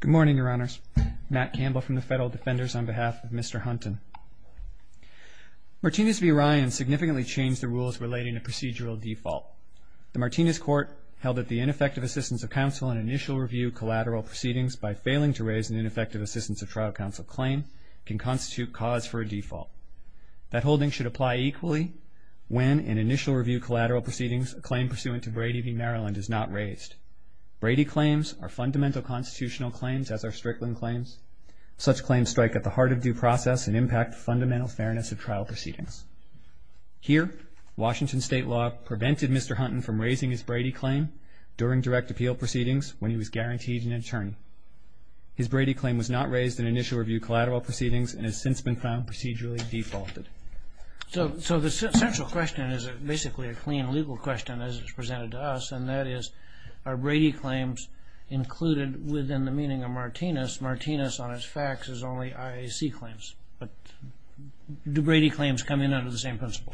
Good morning, Your Honors. Matt Campbell from the Federal Defenders on behalf of Mr. Hunton. Martinez v. Ryan significantly changed the rules relating to procedural default. The Martinez court held that the ineffective assistance of counsel in initial review collateral proceedings by failing to raise an ineffective assistance of trial counsel claim can constitute cause for a default. That holding should apply equally when, in initial review collateral proceedings, a claim pursuant to Brady v. Maryland is not raised. Brady claims are fundamental constitutional claims, as are Strickland claims. Such claims strike at the heart of due process and impact fundamental fairness of trial proceedings. Here, Washington state law prevented Mr. Hunton from raising his Brady claim during direct appeal proceedings when he was guaranteed an attorney. His Brady claim was not raised in initial review collateral proceedings and has since been found procedurally defaulted. So the central question is basically a clean legal question, as it was presented to us, and that is, are Brady claims included within the meaning of Martinez? Martinez, on its facts, is only IAC claims. But do Brady claims come in under the same principle?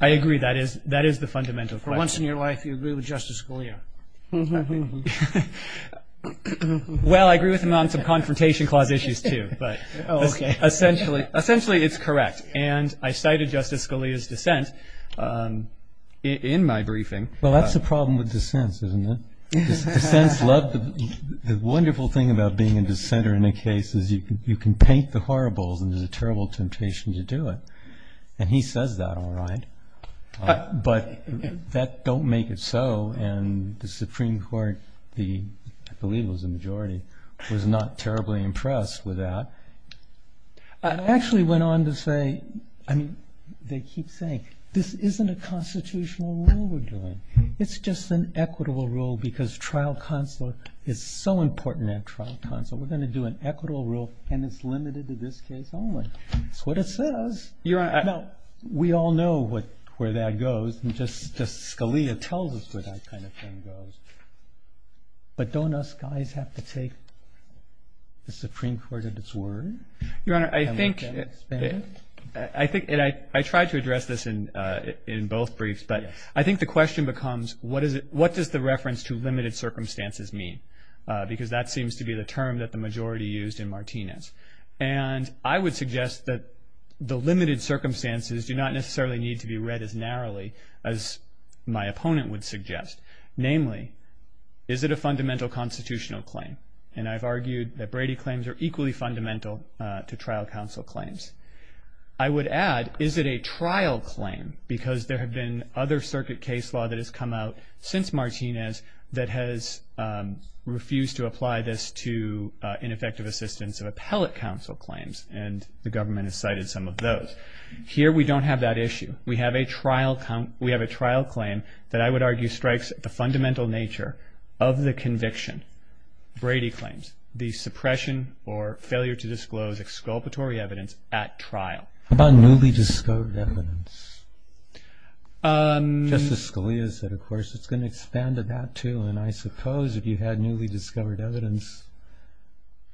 I agree. That is the fundamental question. For once in your life, you agree with Justice Scalia. Well, I agree with him on some Confrontation Clause issues, too. Essentially, it's correct. And I cited Justice Scalia's dissent in my briefing. Well, that's the problem with dissents, isn't it? The wonderful thing about being a dissenter in a case is you can paint the horribles and there's a terrible temptation to do it. And he says that all right, but that don't make it so. And the Supreme Court, I believe it was the majority, was not terribly impressed with that. I actually went on to say, I mean, they keep saying, this isn't a constitutional rule we're doing. It's just an equitable rule because trial consular is so important at trial consular. We're going to do an equitable rule, and it's limited to this case only. It's what it says. We all know where that goes. Justice Scalia tells us where that kind of thing goes. But don't us guys have to take the Supreme Court at its word? Your Honor, I think I tried to address this in both briefs, but I think the question becomes what does the reference to limited circumstances mean? Because that seems to be the term that the majority used in Martinez. And I would suggest that the limited circumstances do not necessarily need to be read as narrowly as my opponent would suggest. Namely, is it a fundamental constitutional claim? And I've argued that Brady claims are equally fundamental to trial counsel claims. I would add, is it a trial claim? Because there have been other circuit case law that has come out since Martinez that has refused to apply this to ineffective assistance of appellate counsel claims, and the government has cited some of those. Here we don't have that issue. We have a trial claim that I would argue strikes the fundamental nature of the conviction. Brady claims the suppression or failure to disclose exculpatory evidence at trial. How about newly discovered evidence? Justice Scalia said, of course, it's going to expand to that too, and I suppose if you had newly discovered evidence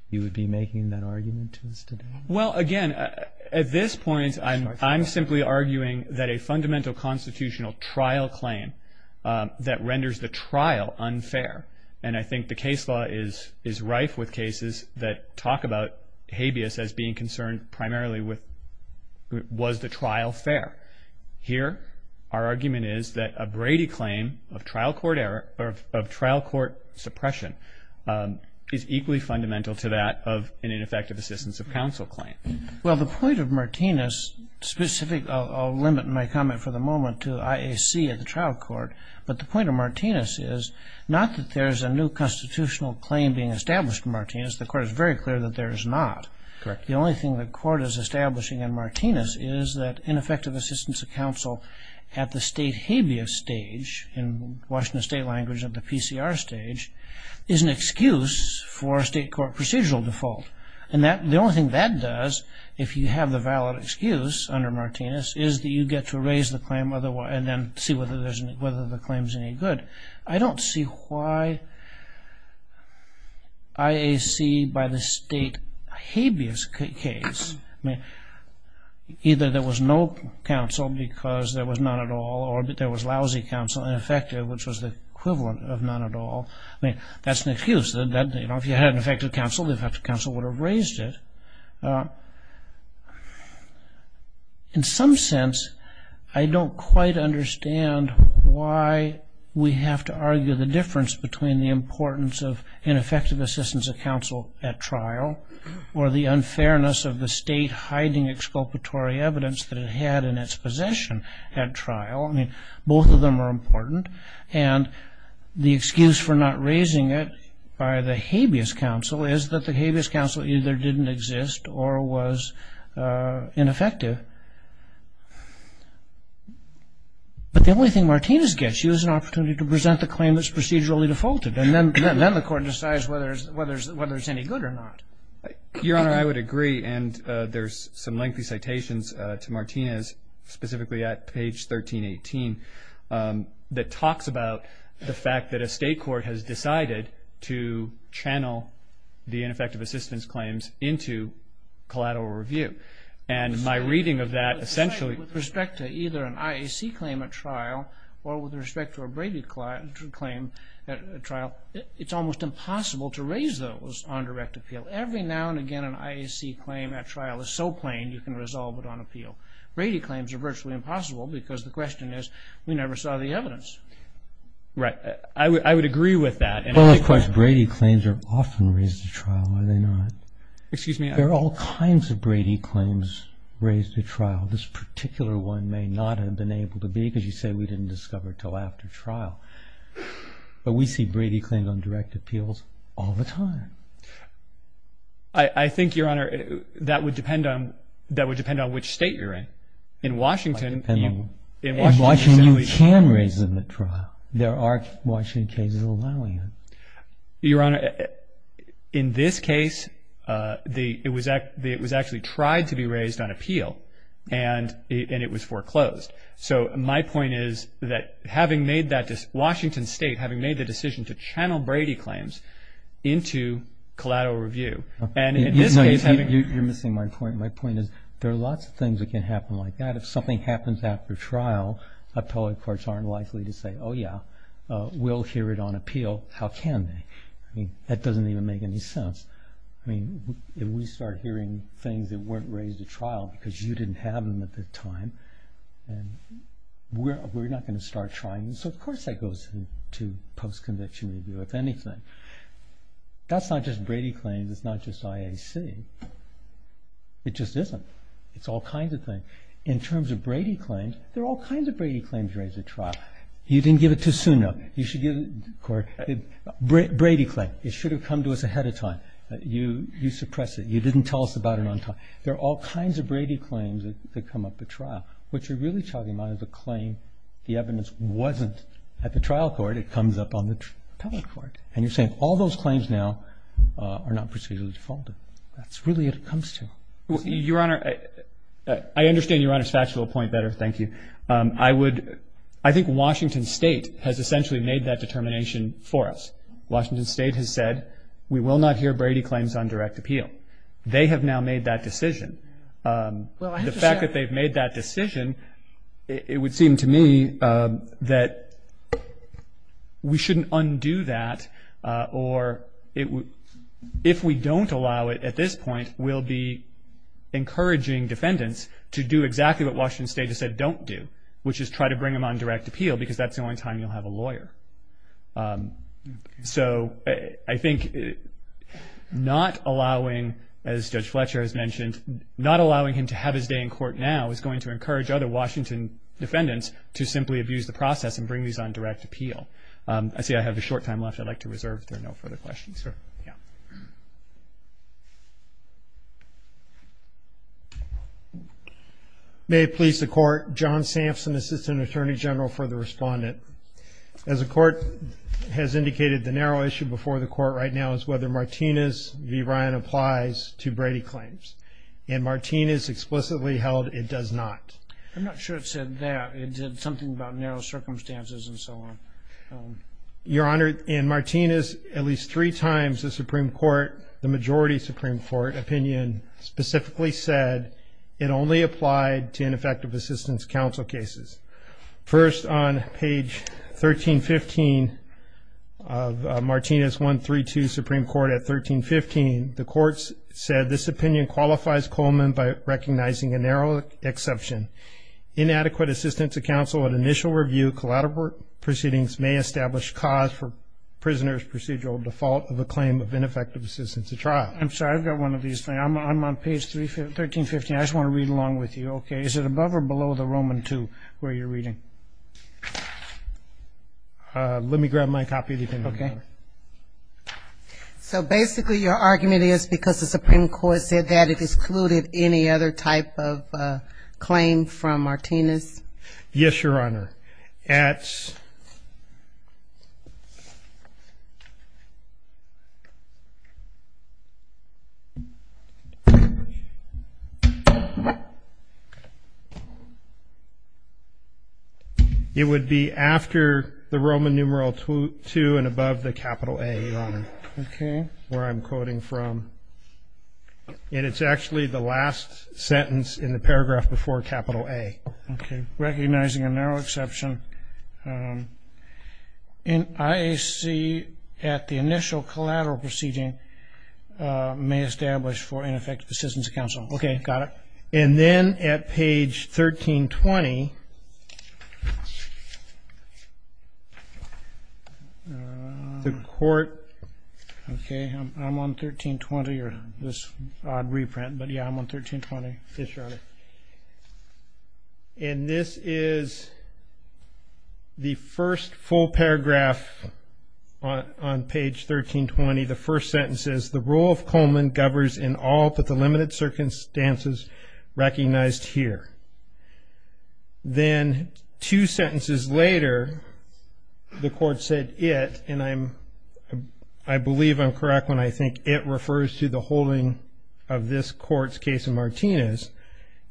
you would be making that argument to us today. Well, again, at this point I'm simply arguing that a fundamental constitutional trial claim that renders the trial unfair, and I think the case law is rife with cases that talk about habeas as being concerned primarily with was the trial fair. Here our argument is that a Brady claim of trial court suppression is equally fundamental to that of an ineffective assistance of counsel claim. Well, the point of Martinez specific, I'll limit my comment for the moment to IAC at the trial court, but the point of Martinez is not that there's a new constitutional claim being established in Martinez. The court is very clear that there is not. The only thing the court is establishing in Martinez is that ineffective assistance of counsel at the state habeas stage, in Washington State language at the PCR stage, is an excuse for a state court procedural default. And the only thing that does, if you have the valid excuse under Martinez, is that you get to raise the claim and then see whether the claim is any good. I don't see why IAC, by the state habeas case, either there was no counsel because there was none at all, or there was lousy counsel, ineffective, which was the equivalent of none at all. That's an excuse. If you had an effective counsel, the effective counsel would have raised it. In some sense, I don't quite understand why we have to argue the difference between the importance of ineffective assistance of counsel at trial or the unfairness of the state hiding exculpatory evidence that it had in its possession at trial. I mean, both of them are important. And the excuse for not raising it by the habeas counsel is that the habeas counsel either didn't exist or was ineffective. But the only thing Martinez gets, she has an opportunity to present the claim that's procedurally defaulted. And then the court decides whether it's any good or not. Your Honor, I would agree. And there's some lengthy citations to Martinez, specifically at page 1318, that talks about the fact that a state court has decided to channel the ineffective assistance claims into collateral review. And my reading of that essentially... With respect to either an IAC claim at trial or with respect to a Brady claim at trial, it's almost impossible to raise those on direct appeal. Every now and again an IAC claim at trial is so plain you can resolve it on appeal. Brady claims are virtually impossible because the question is, we never saw the evidence. Right. I would agree with that. Well, of course, Brady claims are often raised at trial, are they not? Excuse me? There are all kinds of Brady claims raised at trial. This particular one may not have been able to be because you say we didn't discover it until after trial. But we see Brady claims on direct appeals all the time. I think, Your Honor, that would depend on which state you're in. In Washington, you can raise them at trial. There are Washington cases allowing it. Your Honor, in this case, it was actually tried to be raised on appeal, and it was foreclosed. So my point is that having made that decision, Washington State having made the decision to channel Brady claims into collateral review, and in this case having... You're missing my point. My point is there are lots of things that can happen like that. If something happens after trial, appellate courts aren't likely to say, oh, yeah, we'll hear it on appeal. How can they? I mean, that doesn't even make any sense. I mean, if we start hearing things that weren't raised at trial because you didn't have them at the time, we're not going to start trying. So, of course, that goes to post-conviction review, if anything. That's not just Brady claims. It's not just IAC. It just isn't. It's all kinds of things. In terms of Brady claims, there are all kinds of Brady claims raised at trial. You didn't give it to Suno. You should give it to the court. Brady claim. It should have come to us ahead of time. You suppressed it. You didn't tell us about it on time. There are all kinds of Brady claims that come up at trial. What you're really talking about is a claim the evidence wasn't at the trial court. It comes up on the appellate court. And you're saying all those claims now are not procedurally defaulted. That's really what it comes to. Your Honor, I understand Your Honor's factual point better. Thank you. I think Washington State has essentially made that determination for us. Washington State has said we will not hear Brady claims on direct appeal. They have now made that decision. The fact that they've made that decision, it would seem to me that we shouldn't undo that or if we don't allow it at this point, we'll be encouraging defendants to do exactly what Washington State has said don't do, which is try to bring him on direct appeal because that's the only time you'll have a lawyer. So I think not allowing, as Judge Fletcher has mentioned, not allowing him to have his day in court now is going to encourage other Washington defendants to simply abuse the process and bring these on direct appeal. I see I have a short time left. I'd like to reserve if there are no further questions. Sure. Yeah. May it please the Court, John Sampson, Assistant Attorney General for the Respondent. As the Court has indicated, the narrow issue before the Court right now is whether Martinez v. Ryan applies to Brady claims. And Martinez explicitly held it does not. I'm not sure it said that. It said something about narrow circumstances and so on. Your Honor, in Martinez, at least three times the Supreme Court, the majority Supreme Court opinion specifically said it only applied to ineffective assistance counsel cases. First, on page 1315 of Martinez 132, Supreme Court at 1315, the courts said this opinion qualifies Coleman by recognizing a narrow exception. Inadequate assistance of counsel at initial review, collateral proceedings may establish cause for prisoner's procedural default of a claim of ineffective assistance at trial. I'm sorry, I've got one of these things. I'm on page 1315. I just want to read along with you. Okay. Is it above or below the Roman II where you're reading? Let me grab my copy of the opinion. Okay. So basically your argument is because the Supreme Court said that it excluded any other type of claim from Martinez? Yes, Your Honor. It would be after the Roman numeral II and above the capital A, Your Honor. Okay. Where I'm quoting from, and it's actually the last sentence in the paragraph before capital A. Okay. Recognizing a narrow exception in IAC at the initial collateral proceeding may establish for ineffective assistance of counsel. Okay. Got it. And then at page 1320, the court, okay, I'm on 1320 or this odd reprint, but, yeah, I'm on 1320. Yes, Your Honor. And this is the first full paragraph on page 1320, the first sentence says, the rule of Coleman governs in all but the limited circumstances recognized here. Then two sentences later, the court said it, and I believe I'm correct when I think it refers to the holding of this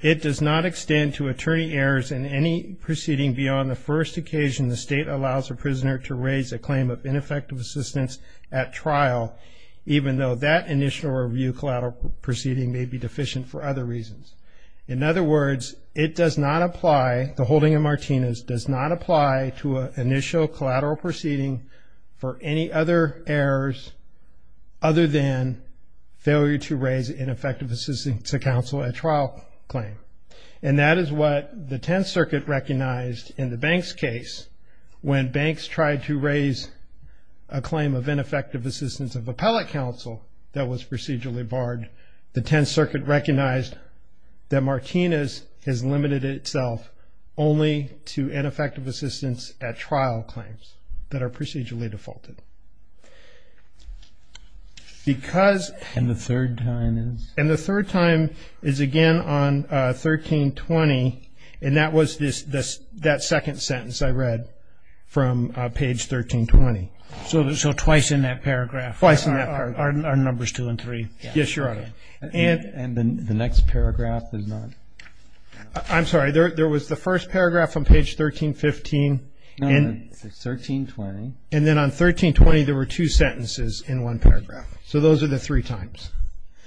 It does not extend to attorney errors in any proceeding beyond the first occasion the state allows a prisoner to raise a claim of ineffective assistance at trial, even though that initial review collateral proceeding may be deficient for other reasons. In other words, it does not apply, the holding of Martinez does not apply to an initial collateral proceeding for any other errors other than failure to raise ineffective assistance to counsel at trial claim. And that is what the Tenth Circuit recognized in the Banks case when Banks tried to raise a claim of ineffective assistance of appellate counsel that was procedurally barred. The Tenth Circuit recognized that Martinez has limited itself only to ineffective assistance at trial claims that are And the third time is? And the third time is again on 1320, and that was that second sentence I read from page 1320. So twice in that paragraph? Twice in that paragraph. Our numbers two and three. Yes, Your Honor. And the next paragraph is not? I'm sorry, there was the first paragraph on page 1315. No, it's 1320. And then on 1320, there were two sentences in one paragraph. So those are the three times.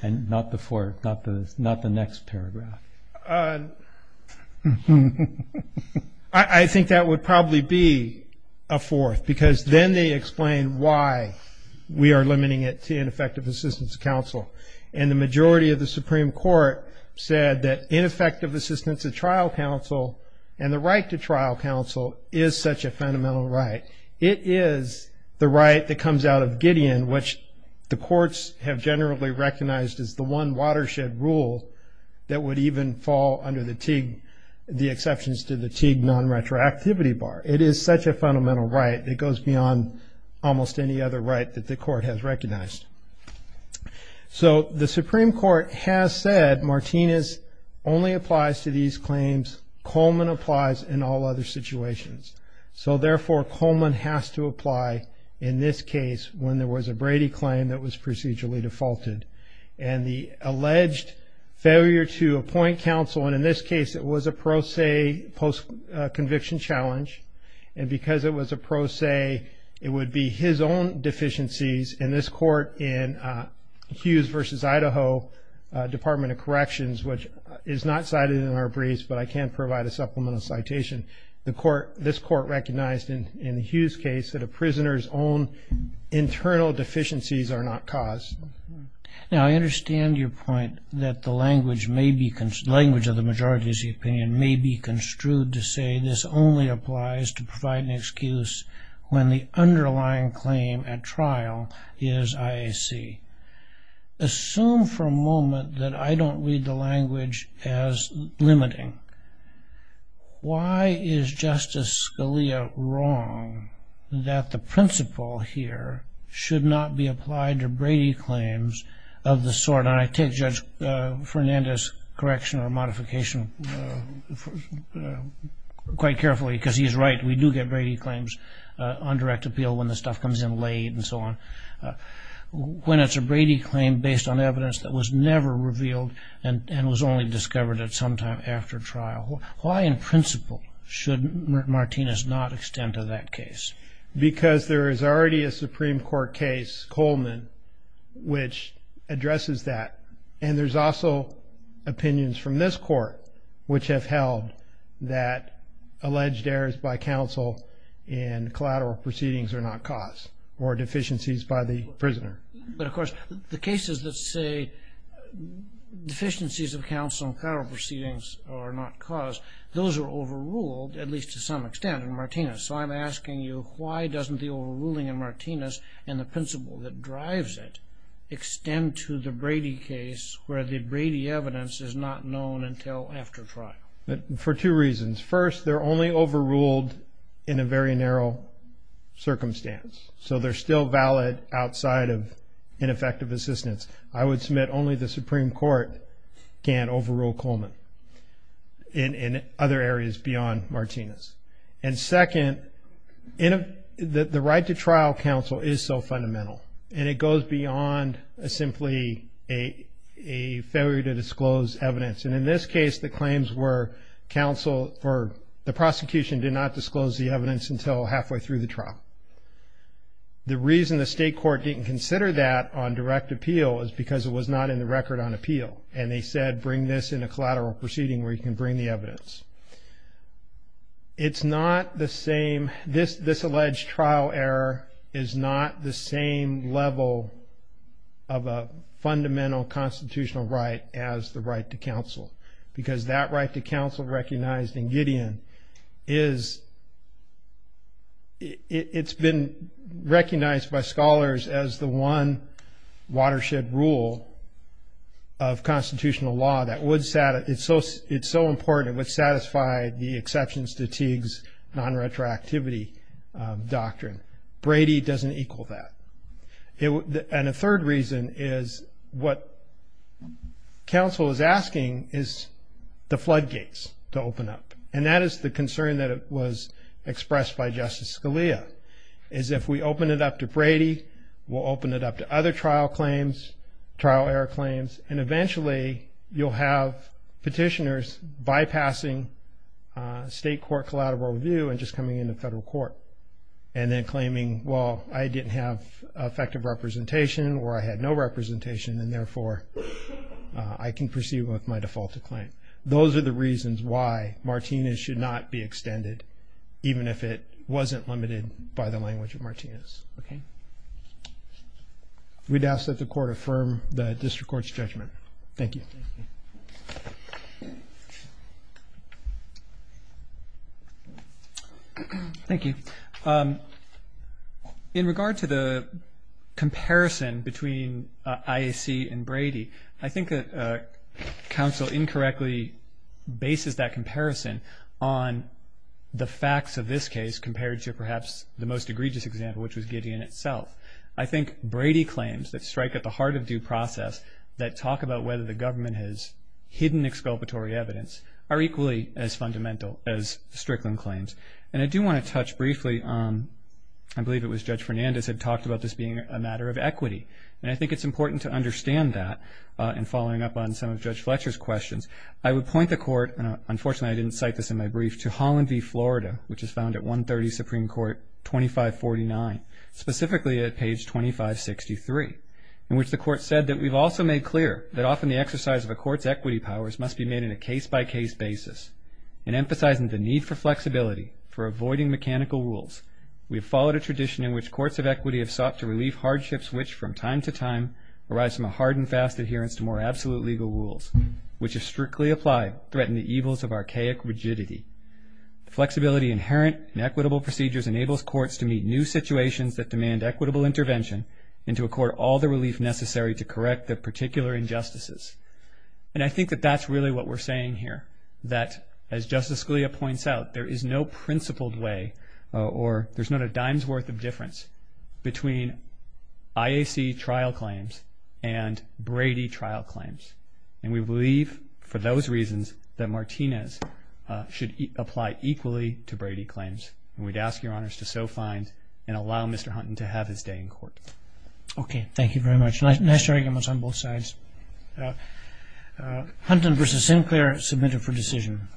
And not the fourth, not the next paragraph. I think that would probably be a fourth because then they explain why we are limiting it to ineffective assistance of counsel. And the majority of the Supreme Court said that ineffective assistance at trial counsel and the right to trial counsel is such a fundamental right. It is the right that comes out of Gideon, which the courts have generally recognized as the one watershed rule that would even fall under the TIG, the exceptions to the TIG nonretroactivity bar. It is such a fundamental right. It goes beyond almost any other right that the court has recognized. So the Supreme Court has said Martinez only applies to these claims. Coleman applies in all other situations. So, therefore, Coleman has to apply in this case when there was a Brady claim that was procedurally defaulted. And the alleged failure to appoint counsel, and in this case it was a pro se post-conviction challenge, and because it was a pro se, it would be his own deficiencies. In this court, in Hughes v. Idaho Department of Corrections, which is not cited in our briefs, but I can provide a supplemental citation, this court recognized in the Hughes case that a prisoner's own internal deficiencies are not caused. Now, I understand your point that the language of the majority's opinion may be construed to say this only applies to provide an excuse when the underlying claim at trial is IAC. Assume for a moment that I don't read the language as limiting. Why is Justice Scalia wrong that the principle here should not be applied to Brady claims of the sort? And I take Judge Fernandez's correction or modification quite carefully because he's right. We do get Brady claims on direct appeal when the stuff comes in late and so on. When it's a Brady claim based on evidence that was never revealed and was only discovered at some time after trial, why in principle should Martinez not extend to that case? Because there is already a Supreme Court case, Coleman, which addresses that. And there's also opinions from this court which have held that alleged errors by counsel in collateral proceedings are not caused or deficiencies by the prisoner. But, of course, the cases that say deficiencies of counsel in collateral proceedings are not caused, those are overruled, at least to some extent, in Martinez. So I'm asking you why doesn't the overruling in Martinez and the principle that drives it extend to the Brady case where the Brady evidence is not known until after trial? For two reasons. First, they're only overruled in a very narrow circumstance. So they're still valid outside of ineffective assistance. I would submit only the Supreme Court can overrule Coleman in other areas beyond Martinez. And second, the right to trial counsel is so fundamental and it goes beyond simply a failure to disclose evidence. And in this case, the claims were counsel for the prosecution did not disclose the evidence until halfway through the trial. The reason the state court didn't consider that on direct appeal is because it was not in the record on appeal. And they said bring this in a collateral proceeding where you can bring the evidence. It's not the same, this alleged trial error is not the same level of a fundamental constitutional right as the right to counsel. Because that right to counsel recognized in Gideon is, it's been recognized by scholars as the one watershed rule of constitutional law that would satisfy, it's so important, it would satisfy the exceptions to Teague's non-retroactivity doctrine. Brady doesn't equal that. And a third reason is what counsel is asking is the floodgates to open up. And that is the concern that was expressed by Justice Scalia, is if we open it up to Brady, we'll open it up to other trial claims, trial error claims, and eventually you'll have petitioners bypassing state court collateral review and just coming into federal court and then claiming, well, I didn't have effective representation or I had no representation and therefore I can proceed with my defaulted claim. Those are the reasons why Martinez should not be extended, even if it wasn't limited by the language of Martinez. We'd ask that the court affirm the district court's judgment. Thank you. Thank you. In regard to the comparison between IAC and Brady, I think that counsel incorrectly bases that comparison on the facts of this case compared to perhaps the most egregious example, which was Gideon itself. I think Brady claims that strike at the heart of due process, that talk about whether the government has hidden exculpatory evidence, are equally as fundamental as Strickland claims. And I do want to touch briefly, I believe it was Judge Fernandez had talked about this being a matter of equity. And I think it's important to understand that in following up on some of Judge Fletcher's questions. I would point the court, and unfortunately I didn't cite this in my brief, to Holland v. Florida, which is found at 130 Supreme Court 2549. Specifically at page 2563, in which the court said that we've also made clear that often the exercise of a court's equity powers must be made in a case-by-case basis. And emphasizing the need for flexibility for avoiding mechanical rules, we have followed a tradition in which courts of equity have sought to relieve hardships which from time to time arise from a hard and fast adherence to more absolute legal rules, which if strictly applied, threaten the evils of archaic rigidity. Flexibility inherent in equitable procedures enables courts to meet new situations that demand equitable intervention and to accord all the relief necessary to correct the particular injustices. And I think that that's really what we're saying here, that as Justice Scalia points out, there is no principled way or there's not a dime's worth of difference between IAC trial claims and Brady trial claims. And we believe, for those reasons, that Martinez should apply equally to Brady claims. And we'd ask your honors to so find and allow Mr. Hunton to have his day in court. Okay, thank you very much. Nice arguments on both sides. Hunton v. Sinclair, submitted for decision.